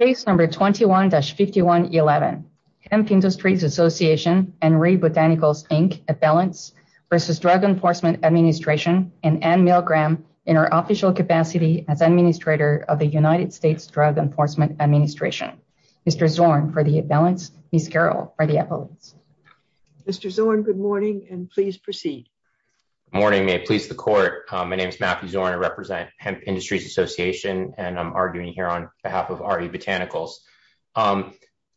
Case number 21-5111, Hemp Industries Association and Ray Botanicals Inc. at Balance v. Drug Enforcement Administration and Anne Milgram in her official capacity as Administrator of the United States Drug Enforcement Administration. Mr. Zorn for the at Balance, Ms. Carroll for the at Valence. Mr. Zorn, good morning and please proceed. Morning, may I please the court. My name is Matthew Zorn, I represent Hemp Industries Association and I'm arguing here on behalf of RE Botanicals.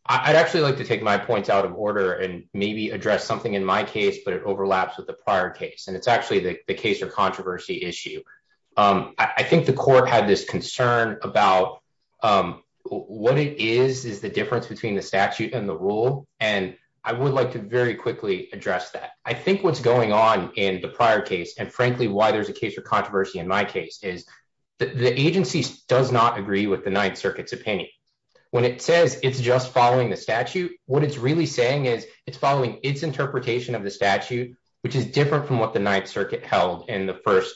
I'd actually like to take my points out of order and maybe address something in my case, but it overlaps with the prior case. And it's actually the case of controversy issue. I think the court had this concern about what it is is the difference between the statute and the rule. And I would like to very quickly address that. I think what's going on in the prior case and frankly why there's a case of controversy in my case is that the agency does not agree with the Ninth Circuit's opinion. When it says it's just following the statute, what it's really saying is it's following its interpretation of the statute, which is different from what the Ninth Circuit held in the first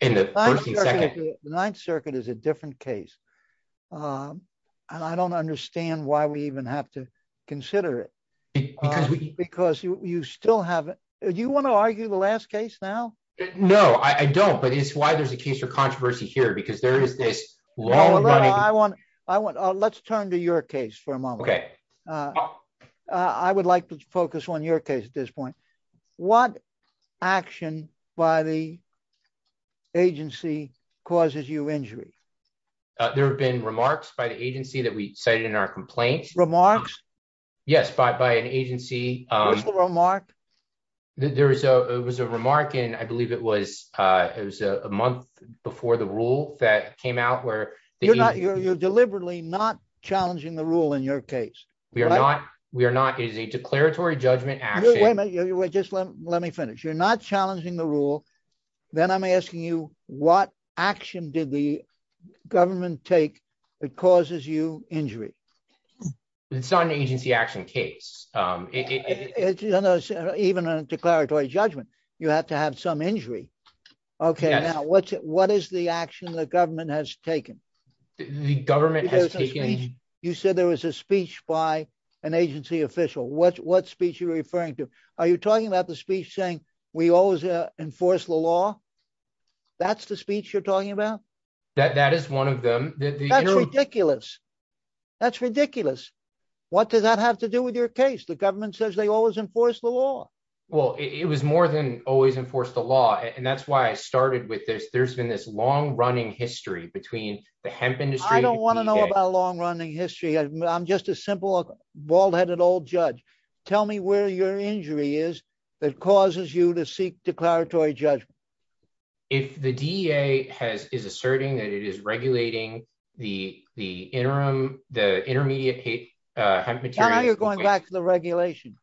and second. The Ninth Circuit is a different case. I don't understand why we even have to consider it. Because you still have it. Do you wanna argue the last case now? No, I don't. But it's why there's a case of controversy here because there is this long running- I want, let's turn to your case for a moment. Okay. I would like to focus on your case at this point. What action by the agency causes you injury? There have been remarks by the agency that we cited in our complaint. Remarks? Yes, by an agency- What's the remark? There was a remark and I believe it was a month before the rule that came out where- You're deliberately not challenging the rule in your case. We are not. We are not. It is a declaratory judgment action. Wait a minute. Just let me finish. You're not challenging the rule. Then I'm asking you, what action did the government take that causes you injury? It's not an agency action case. Even a declaratory judgment, you have to have some injury. Okay, now what is the action the government has taken? The government has taken- You said there was a speech by an agency official. What speech are you referring to? Are you talking about the speech saying, we always enforce the law? That's the speech you're talking about? That is one of them. That's ridiculous. That's ridiculous. What does that have to do with your case? The government says they always enforce the law. Well, it was more than always enforce the law. And that's why I started with this. There's been this long running history between the hemp industry- I don't want to know about a long running history. I'm just a simple bald-headed old judge. Tell me where your injury is that causes you to seek declaratory judgment. If the DEA is asserting that it is regulating the interim, the intermediate hemp material- Now you're going back to the regulation.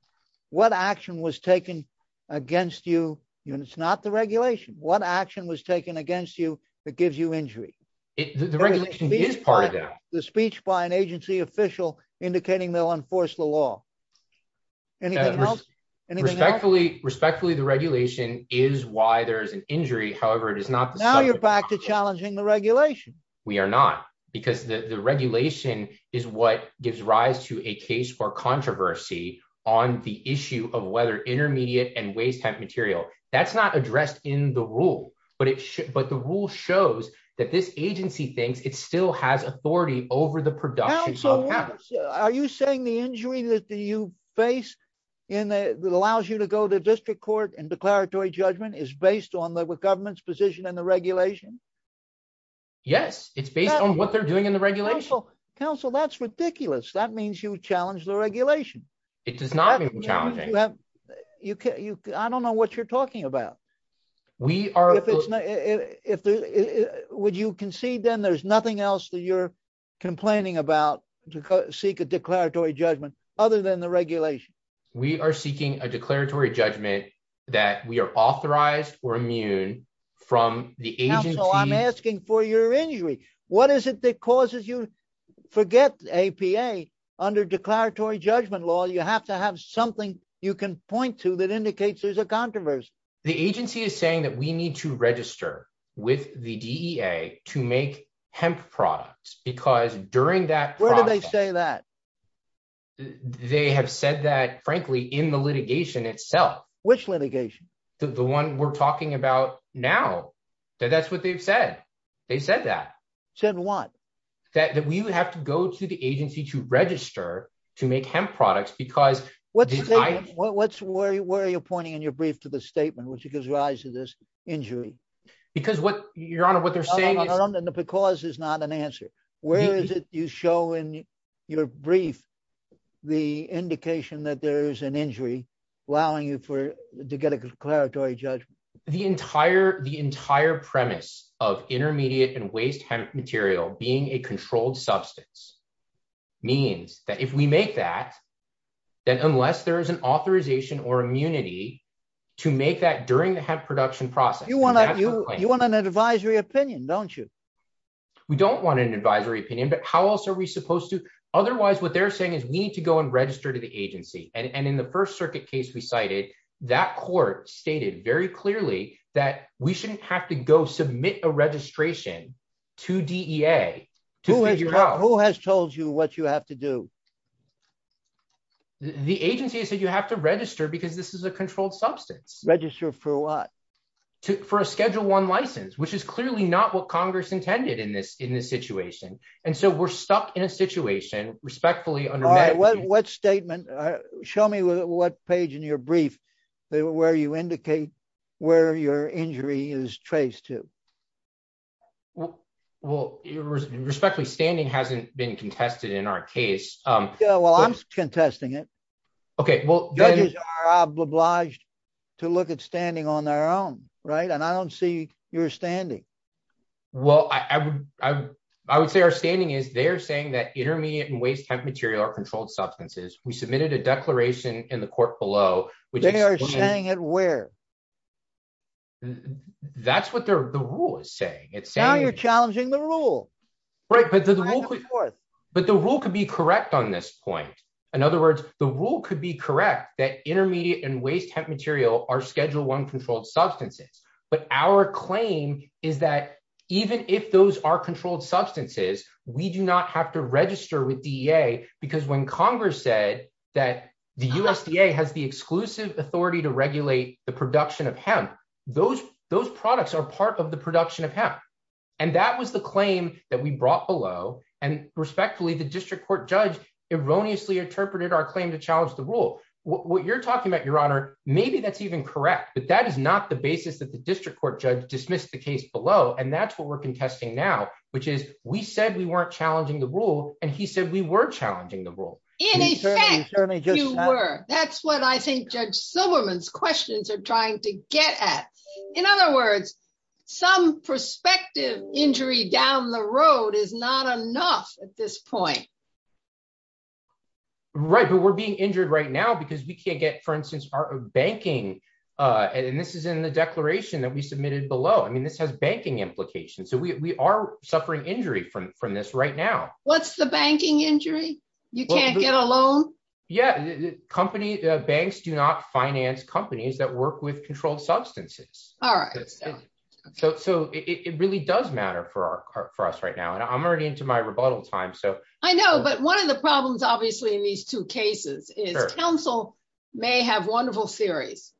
What action was taken against you? And it's not the regulation. What action was taken against you that gives you injury? The regulation is part of that. The speech by an agency official indicating they'll enforce the law. Anything else? Respectfully, the regulation is why there's an injury. However, it is not- Now you're back to challenging the regulation. We are not. Because the regulation is what gives rise to a case for controversy on the issue of whether intermediate and waste hemp material. That's not addressed in the rule. But the rule shows that this agency thinks it still has authority over the production of hemp. Are you saying the injury that you face and that allows you to go to district court and declaratory judgment is based on the government's position and the regulation? Yes. It's based on what they're doing in the regulation. Counsel, that's ridiculous. That means you challenge the regulation. It does not mean challenging. I don't know what you're talking about. Would you concede then there's nothing else that you're complaining about to seek a declaratory judgment other than the regulation? We are seeking a declaratory judgment that we are authorized or immune from the agency- Counsel, I'm asking for your injury. What is it that causes you? Forget APA. Under declaratory judgment law, you have to have something you can point to that indicates there's a controversy. The agency is saying that we need to register with the DEA to make hemp products because during that process- Where do they say that? They have said that, frankly, in the litigation itself. Which litigation? The one we're talking about now. That's what they've said. They said that. Said what? That we would have to go to the agency to register to make hemp products because- What's where you're pointing in your brief to the statement which gives rise to this injury? Because what, Your Honor, what they're saying is- No, no, no, no. The because is not an answer. Where is it you show in your brief the indication that there is an injury allowing you to get a declaratory judgment? The entire premise of intermediate and waste hemp material being a controlled substance means that if we make that, then unless there is an authorization or immunity to make that during the hemp production process- You want an advisory opinion, don't you? We don't want an advisory opinion, but how else are we supposed to? Otherwise, what they're saying is we need to go and register to the agency. And in the First Circuit case we cited, that court stated very clearly that we shouldn't have to go submit a registration to DEA to figure out- Who has told you what you have to do? The agency has said you have to register because this is a controlled substance. Register for what? For a Schedule I license, which is clearly not what Congress intended in this situation. And so we're stuck in a situation, respectfully, under- What statement? Show me what page in your brief where you indicate where your injury is traced to. Well, respectfully, standing hasn't been contested in our case. Yeah, well, I'm contesting it. Okay, well- Judges are obliged to look at standing on their own, right? And I don't see your standing. Well, I would say our standing is they're saying that intermediate and waste hemp material are controlled substances. We submitted a declaration in the court below- They are saying it where? That's what the rule is saying. It's saying- Now you're challenging the rule. Right, but the rule could be correct on this point. In other words, the rule could be correct that intermediate and waste hemp material are Schedule I controlled substances. But our claim is that even if those are controlled substances, we do not have to register with DEA because when Congress said that the USDA has the exclusive authority to regulate the production of hemp, those products are part of the production of hemp. And that was the claim that we brought below. And respectfully, the district court judge erroneously interpreted our claim to challenge the rule. What you're talking about, Your Honor, maybe that's even correct, but that is not the basis that the district court judge dismissed the case below. And that's what we're contesting now, which is we said we weren't challenging the rule and he said we were challenging the rule. In effect, you were. That's what I think Judge Silverman's questions are trying to get at. In other words, some prospective injury down the road is not enough at this point. Right, but we're being injured right now because we can't get, for instance, our banking. And this is in the declaration that we submitted below. I mean, this has banking implications. So we are suffering injury from this right now. What's the banking injury? You can't get a loan? Yeah, banks do not finance companies that work with controlled substances. All right. So it really does matter for us right now. And I'm already into my rebuttal time, so. I know, but one of the problems, obviously, in these two cases is counsel may have wonderful theories.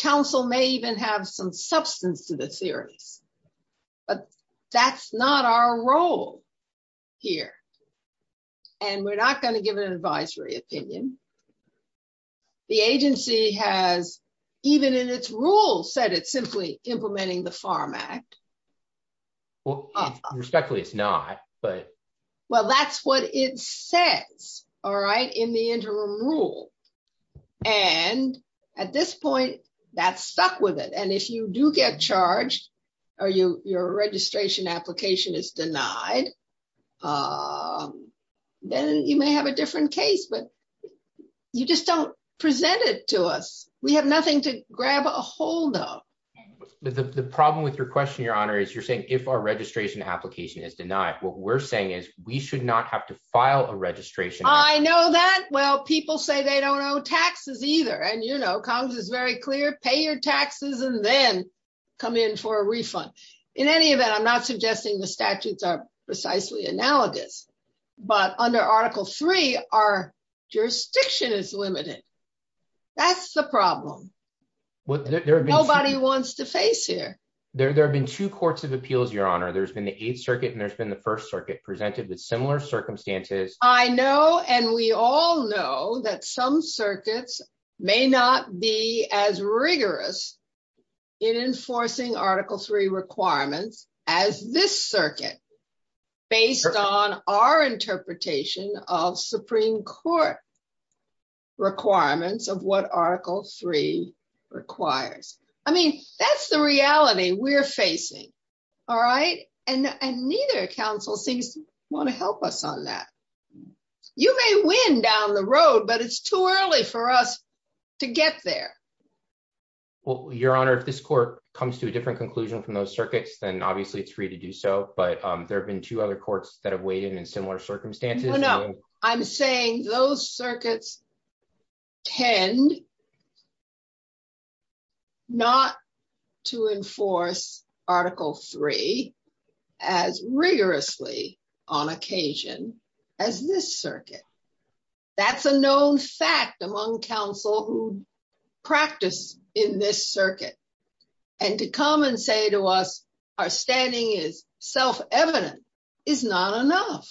Counsel may even have some substance to the theories, but that's not our role here. And we're not going to give an advisory opinion. The agency has, even in its rules, said it's simply implementing the FARM Act. Well, respectfully, it's not, but. Well, that's what it says, all right, in the interim rule. And at this point, that's stuck with it. And if you do get charged or your registration application is denied, then you may have a different case, but you just don't present it to us. We have nothing to grab a hold of. The problem with your question, Your Honor, is you're saying if our registration application is denied, what we're saying is we should not have to file a registration. I know that. Well, people say they don't owe taxes either. And, you know, Congress is very clear. Pay your taxes and then come in for a refund. In any event, I'm not suggesting the statutes are precisely analogous, but under Article III, our jurisdiction is limited. That's the problem. Nobody wants to face here. There have been two courts of appeals, Your Honor. There's been the Eighth Circuit and there's been the First Circuit presented with similar circumstances. I know, and we all know, that some circuits may not be as rigorous in enforcing Article III requirements as this circuit, based on our interpretation of Supreme Court requirements of what Article III requires. I mean, that's the reality we're facing, all right? And neither counsel seems to want to help us on that. You may win down the road, but it's too early for us to get there. Well, Your Honor, if this court comes to a different conclusion from those circuits, then obviously it's free to do so. But there've been two other courts that have weighed in in similar circumstances. No, no. I'm saying those circuits tend not to enforce Article III as rigorously on occasion as this circuit. That's a known fact among counsel who practice in this circuit. And to come and say to us, our standing is self-evident is not enough.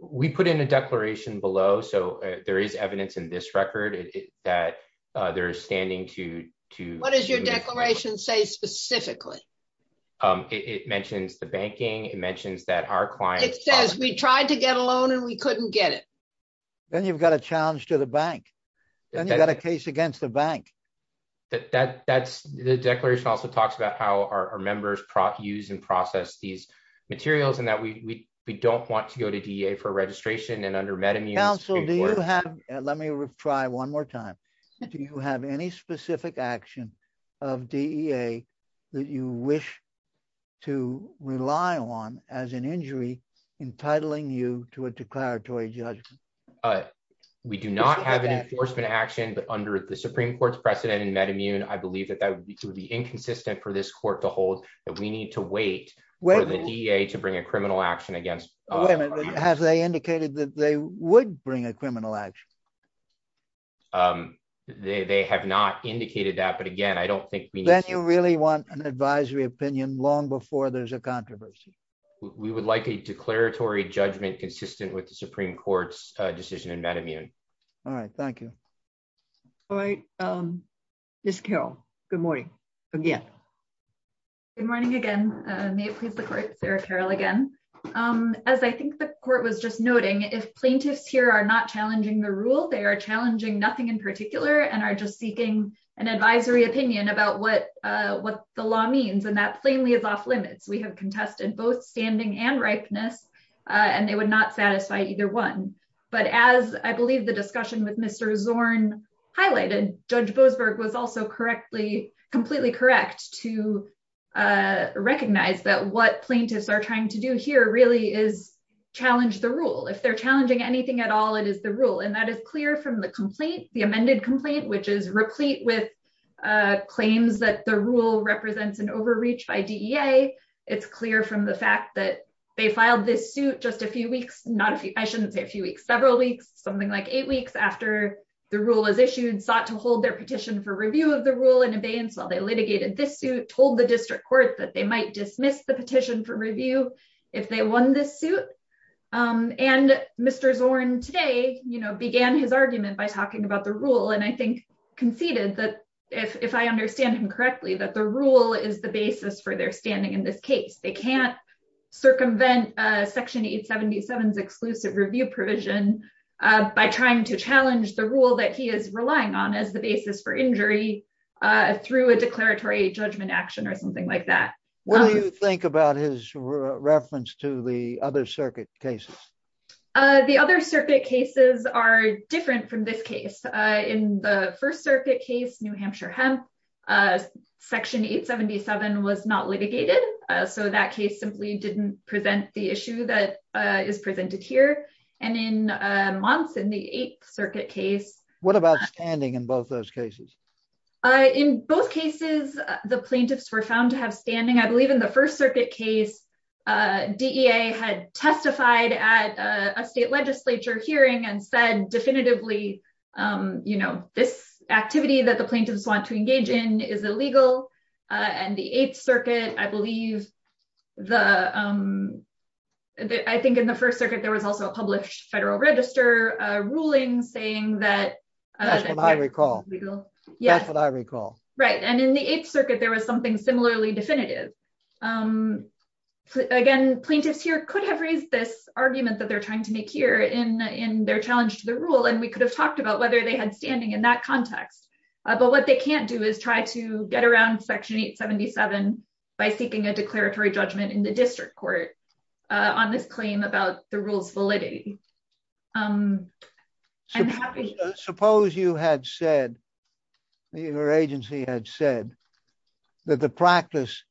We put in a declaration below. So there is evidence in this record that there is standing to- What does your declaration say specifically? It mentions the banking. It mentions that our clients- It says we tried to get a loan and we couldn't get it. Then you've got a challenge to the bank. Then you've got a case against the bank. The declaration also talks about how our members use and process these materials and that we don't want to go to DEA for registration and under MedImmune- Counsel, do you have... Let me try one more time. Do you have any specific action of DEA that you wish to rely on as an injury entitling you to a declaratory judgment? We do not have an enforcement action, but under the Supreme Court's precedent in MedImmune, I believe that that would be inconsistent for this court to hold, that we need to wait for the DEA to bring a criminal action against- Wait a minute, have they indicated that they would bring a criminal action? They have not indicated that, but again, I don't think we need to- Then you really want an advisory opinion long before there's a controversy. We would like a declaratory judgment consistent with the Supreme Court's decision in MedImmune. All right, thank you. All right, Ms. Carroll, good morning again. Good morning again. May it please the court, Sarah Carroll again. As I think the court was just noting, if plaintiffs here are not challenging the rule, they are challenging nothing in particular and are just seeking an advisory opinion about what the law means, and that plainly is off limits. We have contested both standing and ripeness, and they would not satisfy either one. But as I believe the discussion with Mr. Zorn highlighted, Judge Boasberg was also completely correct to recognize that what plaintiffs are trying to do here really is challenge the rule. If they're challenging anything at all, it is the rule, and that is clear from the complaint, the amended complaint, which is replete with claims that the rule represents an overreach by DEA. It's clear from the fact that they filed this suit just a few weeks, not a few, I shouldn't say a few weeks, several weeks, something like eight weeks after the rule was issued, sought to hold their petition for review of the rule in abeyance while they litigated this suit, told the district court that they might dismiss the petition for review if they won this suit. And Mr. Zorn today began his argument by talking about the rule, and I think conceded that, if I understand him correctly, that the rule is the basis for their standing in this case. They can't circumvent Section 877's exclusive review provision by trying to challenge the rule that he is relying on as the basis for injury through a declaratory judgment action or something like that. What do you think about his reference to the other circuit cases? The other circuit cases are different from this case. In the First Circuit case, New Hampshire-Hemp, Section 877 was not litigated, so that case simply didn't present the issue that is presented here. And in Months, in the Eighth Circuit case- What about standing in both those cases? In both cases, the plaintiffs were found to have standing. I believe in the First Circuit case, DEA had testified at a state legislature hearing and said definitively, this activity that the plaintiffs want to engage in is illegal. And the Eighth Circuit, I believe, I think in the First Circuit, there was also a published Federal Register ruling saying that- That's what I recall. Yes. That's what I recall. Right, and in the Eighth Circuit, there was something similarly definitive. Again, plaintiffs here could have raised this argument that they're trying to make here in their challenge to the rule, and we could have talked about whether they had standing in that context. But what they can't do is try to get around Section 877 by seeking a declaratory judgment in the district court on this claim about the rule's validity. Suppose you had said, your agency had said, that the practice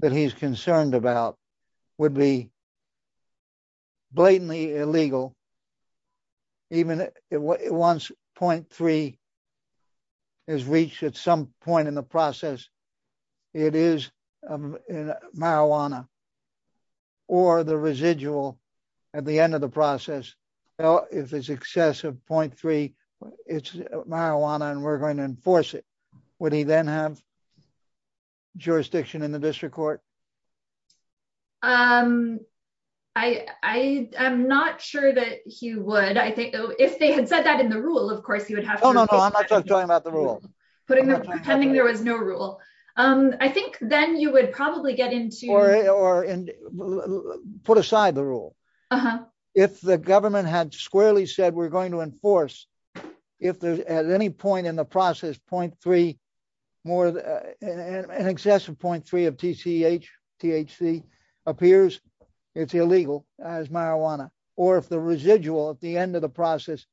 that he's concerned about would be blatantly illegal, even once .3 is reached at some point in the process, it is marijuana, or the residual at the end of the process. If it's excessive .3, it's marijuana, and we're going to enforce it. Would he then have jurisdiction in the district court? I'm not sure that he would. I think if they had said that in the rule, of course, you would have to- No, no, no, I'm not talking about the rule. Putting the, pretending there was no rule. I think then you would probably get into- Or put aside the rule. If the government had squarely said, we're going to enforce, if there's at any point in the process, .3 more, an excessive .3 of TCH, THC appears, it's illegal as marijuana, or if the residual at the end of the process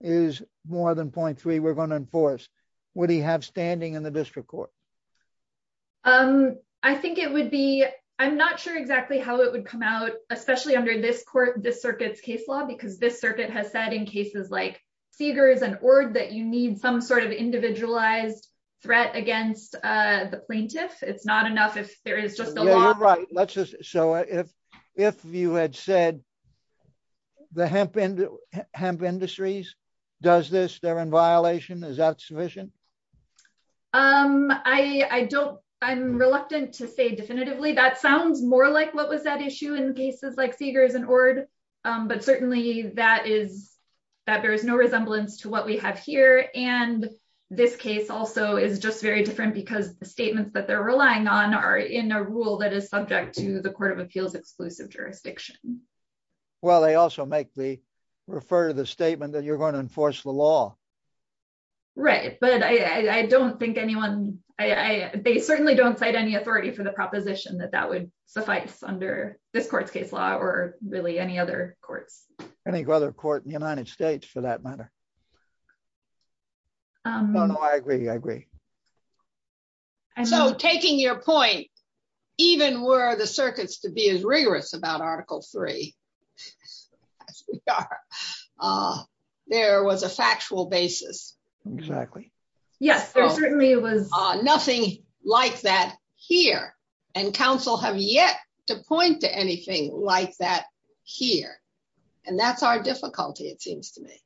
is more than .3, we're going to enforce. Would he have standing in the district court? I think it would be, I'm not sure exactly how it would come out, especially under this court, this circuit's case law, because this circuit has said in cases like Seeger's and Ord that you need some sort of individualized threat against the plaintiff. It's not enough if there is just a law- Yeah, you're right. Let's just, so if you had said, the hemp industries does this, they're in violation, is that sufficient? I don't, I'm reluctant to say definitively. That sounds more like what was at issue in cases like Seeger's and Ord, but certainly that is, that bears no resemblance to what we have here. And this case also is just very different because the statements that they're relying on are in a rule that is subject to the court of appeals exclusive jurisdiction. Well, they also make the, refer to the statement that you're going to enforce the law. Right, but I don't think anyone, they certainly don't cite any authority for the proposition that that would suffice under this court's case law or really any other courts. Any other court in the United States for that matter. No, no, I agree, I agree. So taking your point, even were the circuits to be as rigorous about article three as we are, there was a factual basis. Exactly. Yes, there certainly was. Nothing like that here. And counsel have yet to point to anything like that here. And that's our difficulty, it seems to me.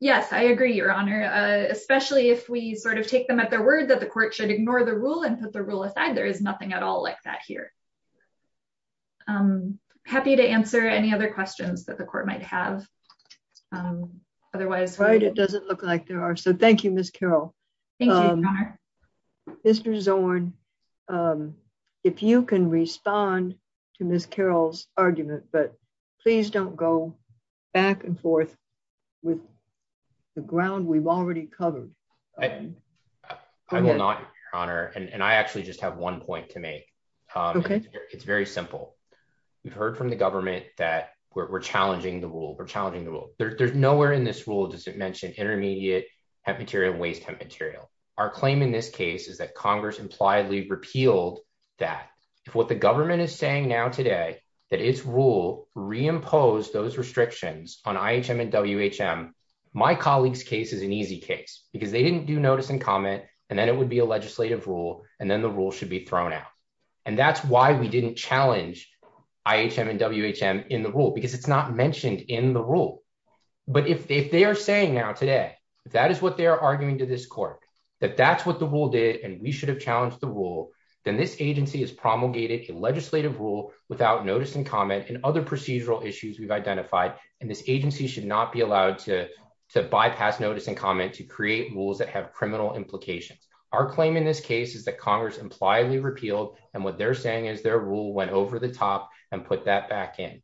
Yes, I agree, Your Honor. Especially if we sort of take them at their word that the court should ignore the rule and put the rule aside, there is nothing at all like that here. Happy to answer any other questions that the court might have otherwise. Right, it doesn't look like there are. So thank you, Ms. Carroll. Thank you, Your Honor. Mr. Zorn, if you can respond to Ms. Carroll's argument, but please don't go back and forth with the ground we've already covered. I will not, Your Honor. And I actually just have one point to make. Okay. It's very simple. We've heard from the government that we're challenging the rule. We're challenging the rule. There's nowhere in this rule does it mention intermediate hemp material and waste hemp material. Our claim in this case is that Congress impliedly repealed that if what the government is saying now today that its rule reimpose those restrictions on IHM and WHM, my colleague's case is an easy case because they didn't do notice and comment and then it would be a legislative rule and then the rule should be thrown out. And that's why we didn't challenge IHM and WHM in the rule because it's not mentioned in the rule. But if they are saying now today that is what they're arguing to this court, that that's what the rule did and we should have challenged the rule, then this agency has promulgated a legislative rule without notice and comment and other procedural issues we've identified. And this agency should not be allowed to bypass notice and comment to create rules that have criminal implications. Our claim in this case is that Congress impliedly repealed and what they're saying is their rule went over the top and put that back in.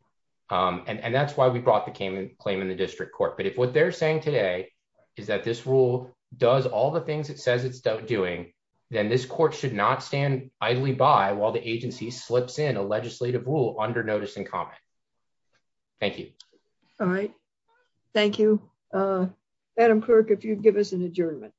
And that's why we brought the claim in the district court. But if what they're saying today is that this rule does all the things it says it's doing, then this court should not stand idly by while the agency slips in a legislative rule under notice and comment. Thank you. All right. Thank you. Adam Kirk, if you'd give us an adjournment.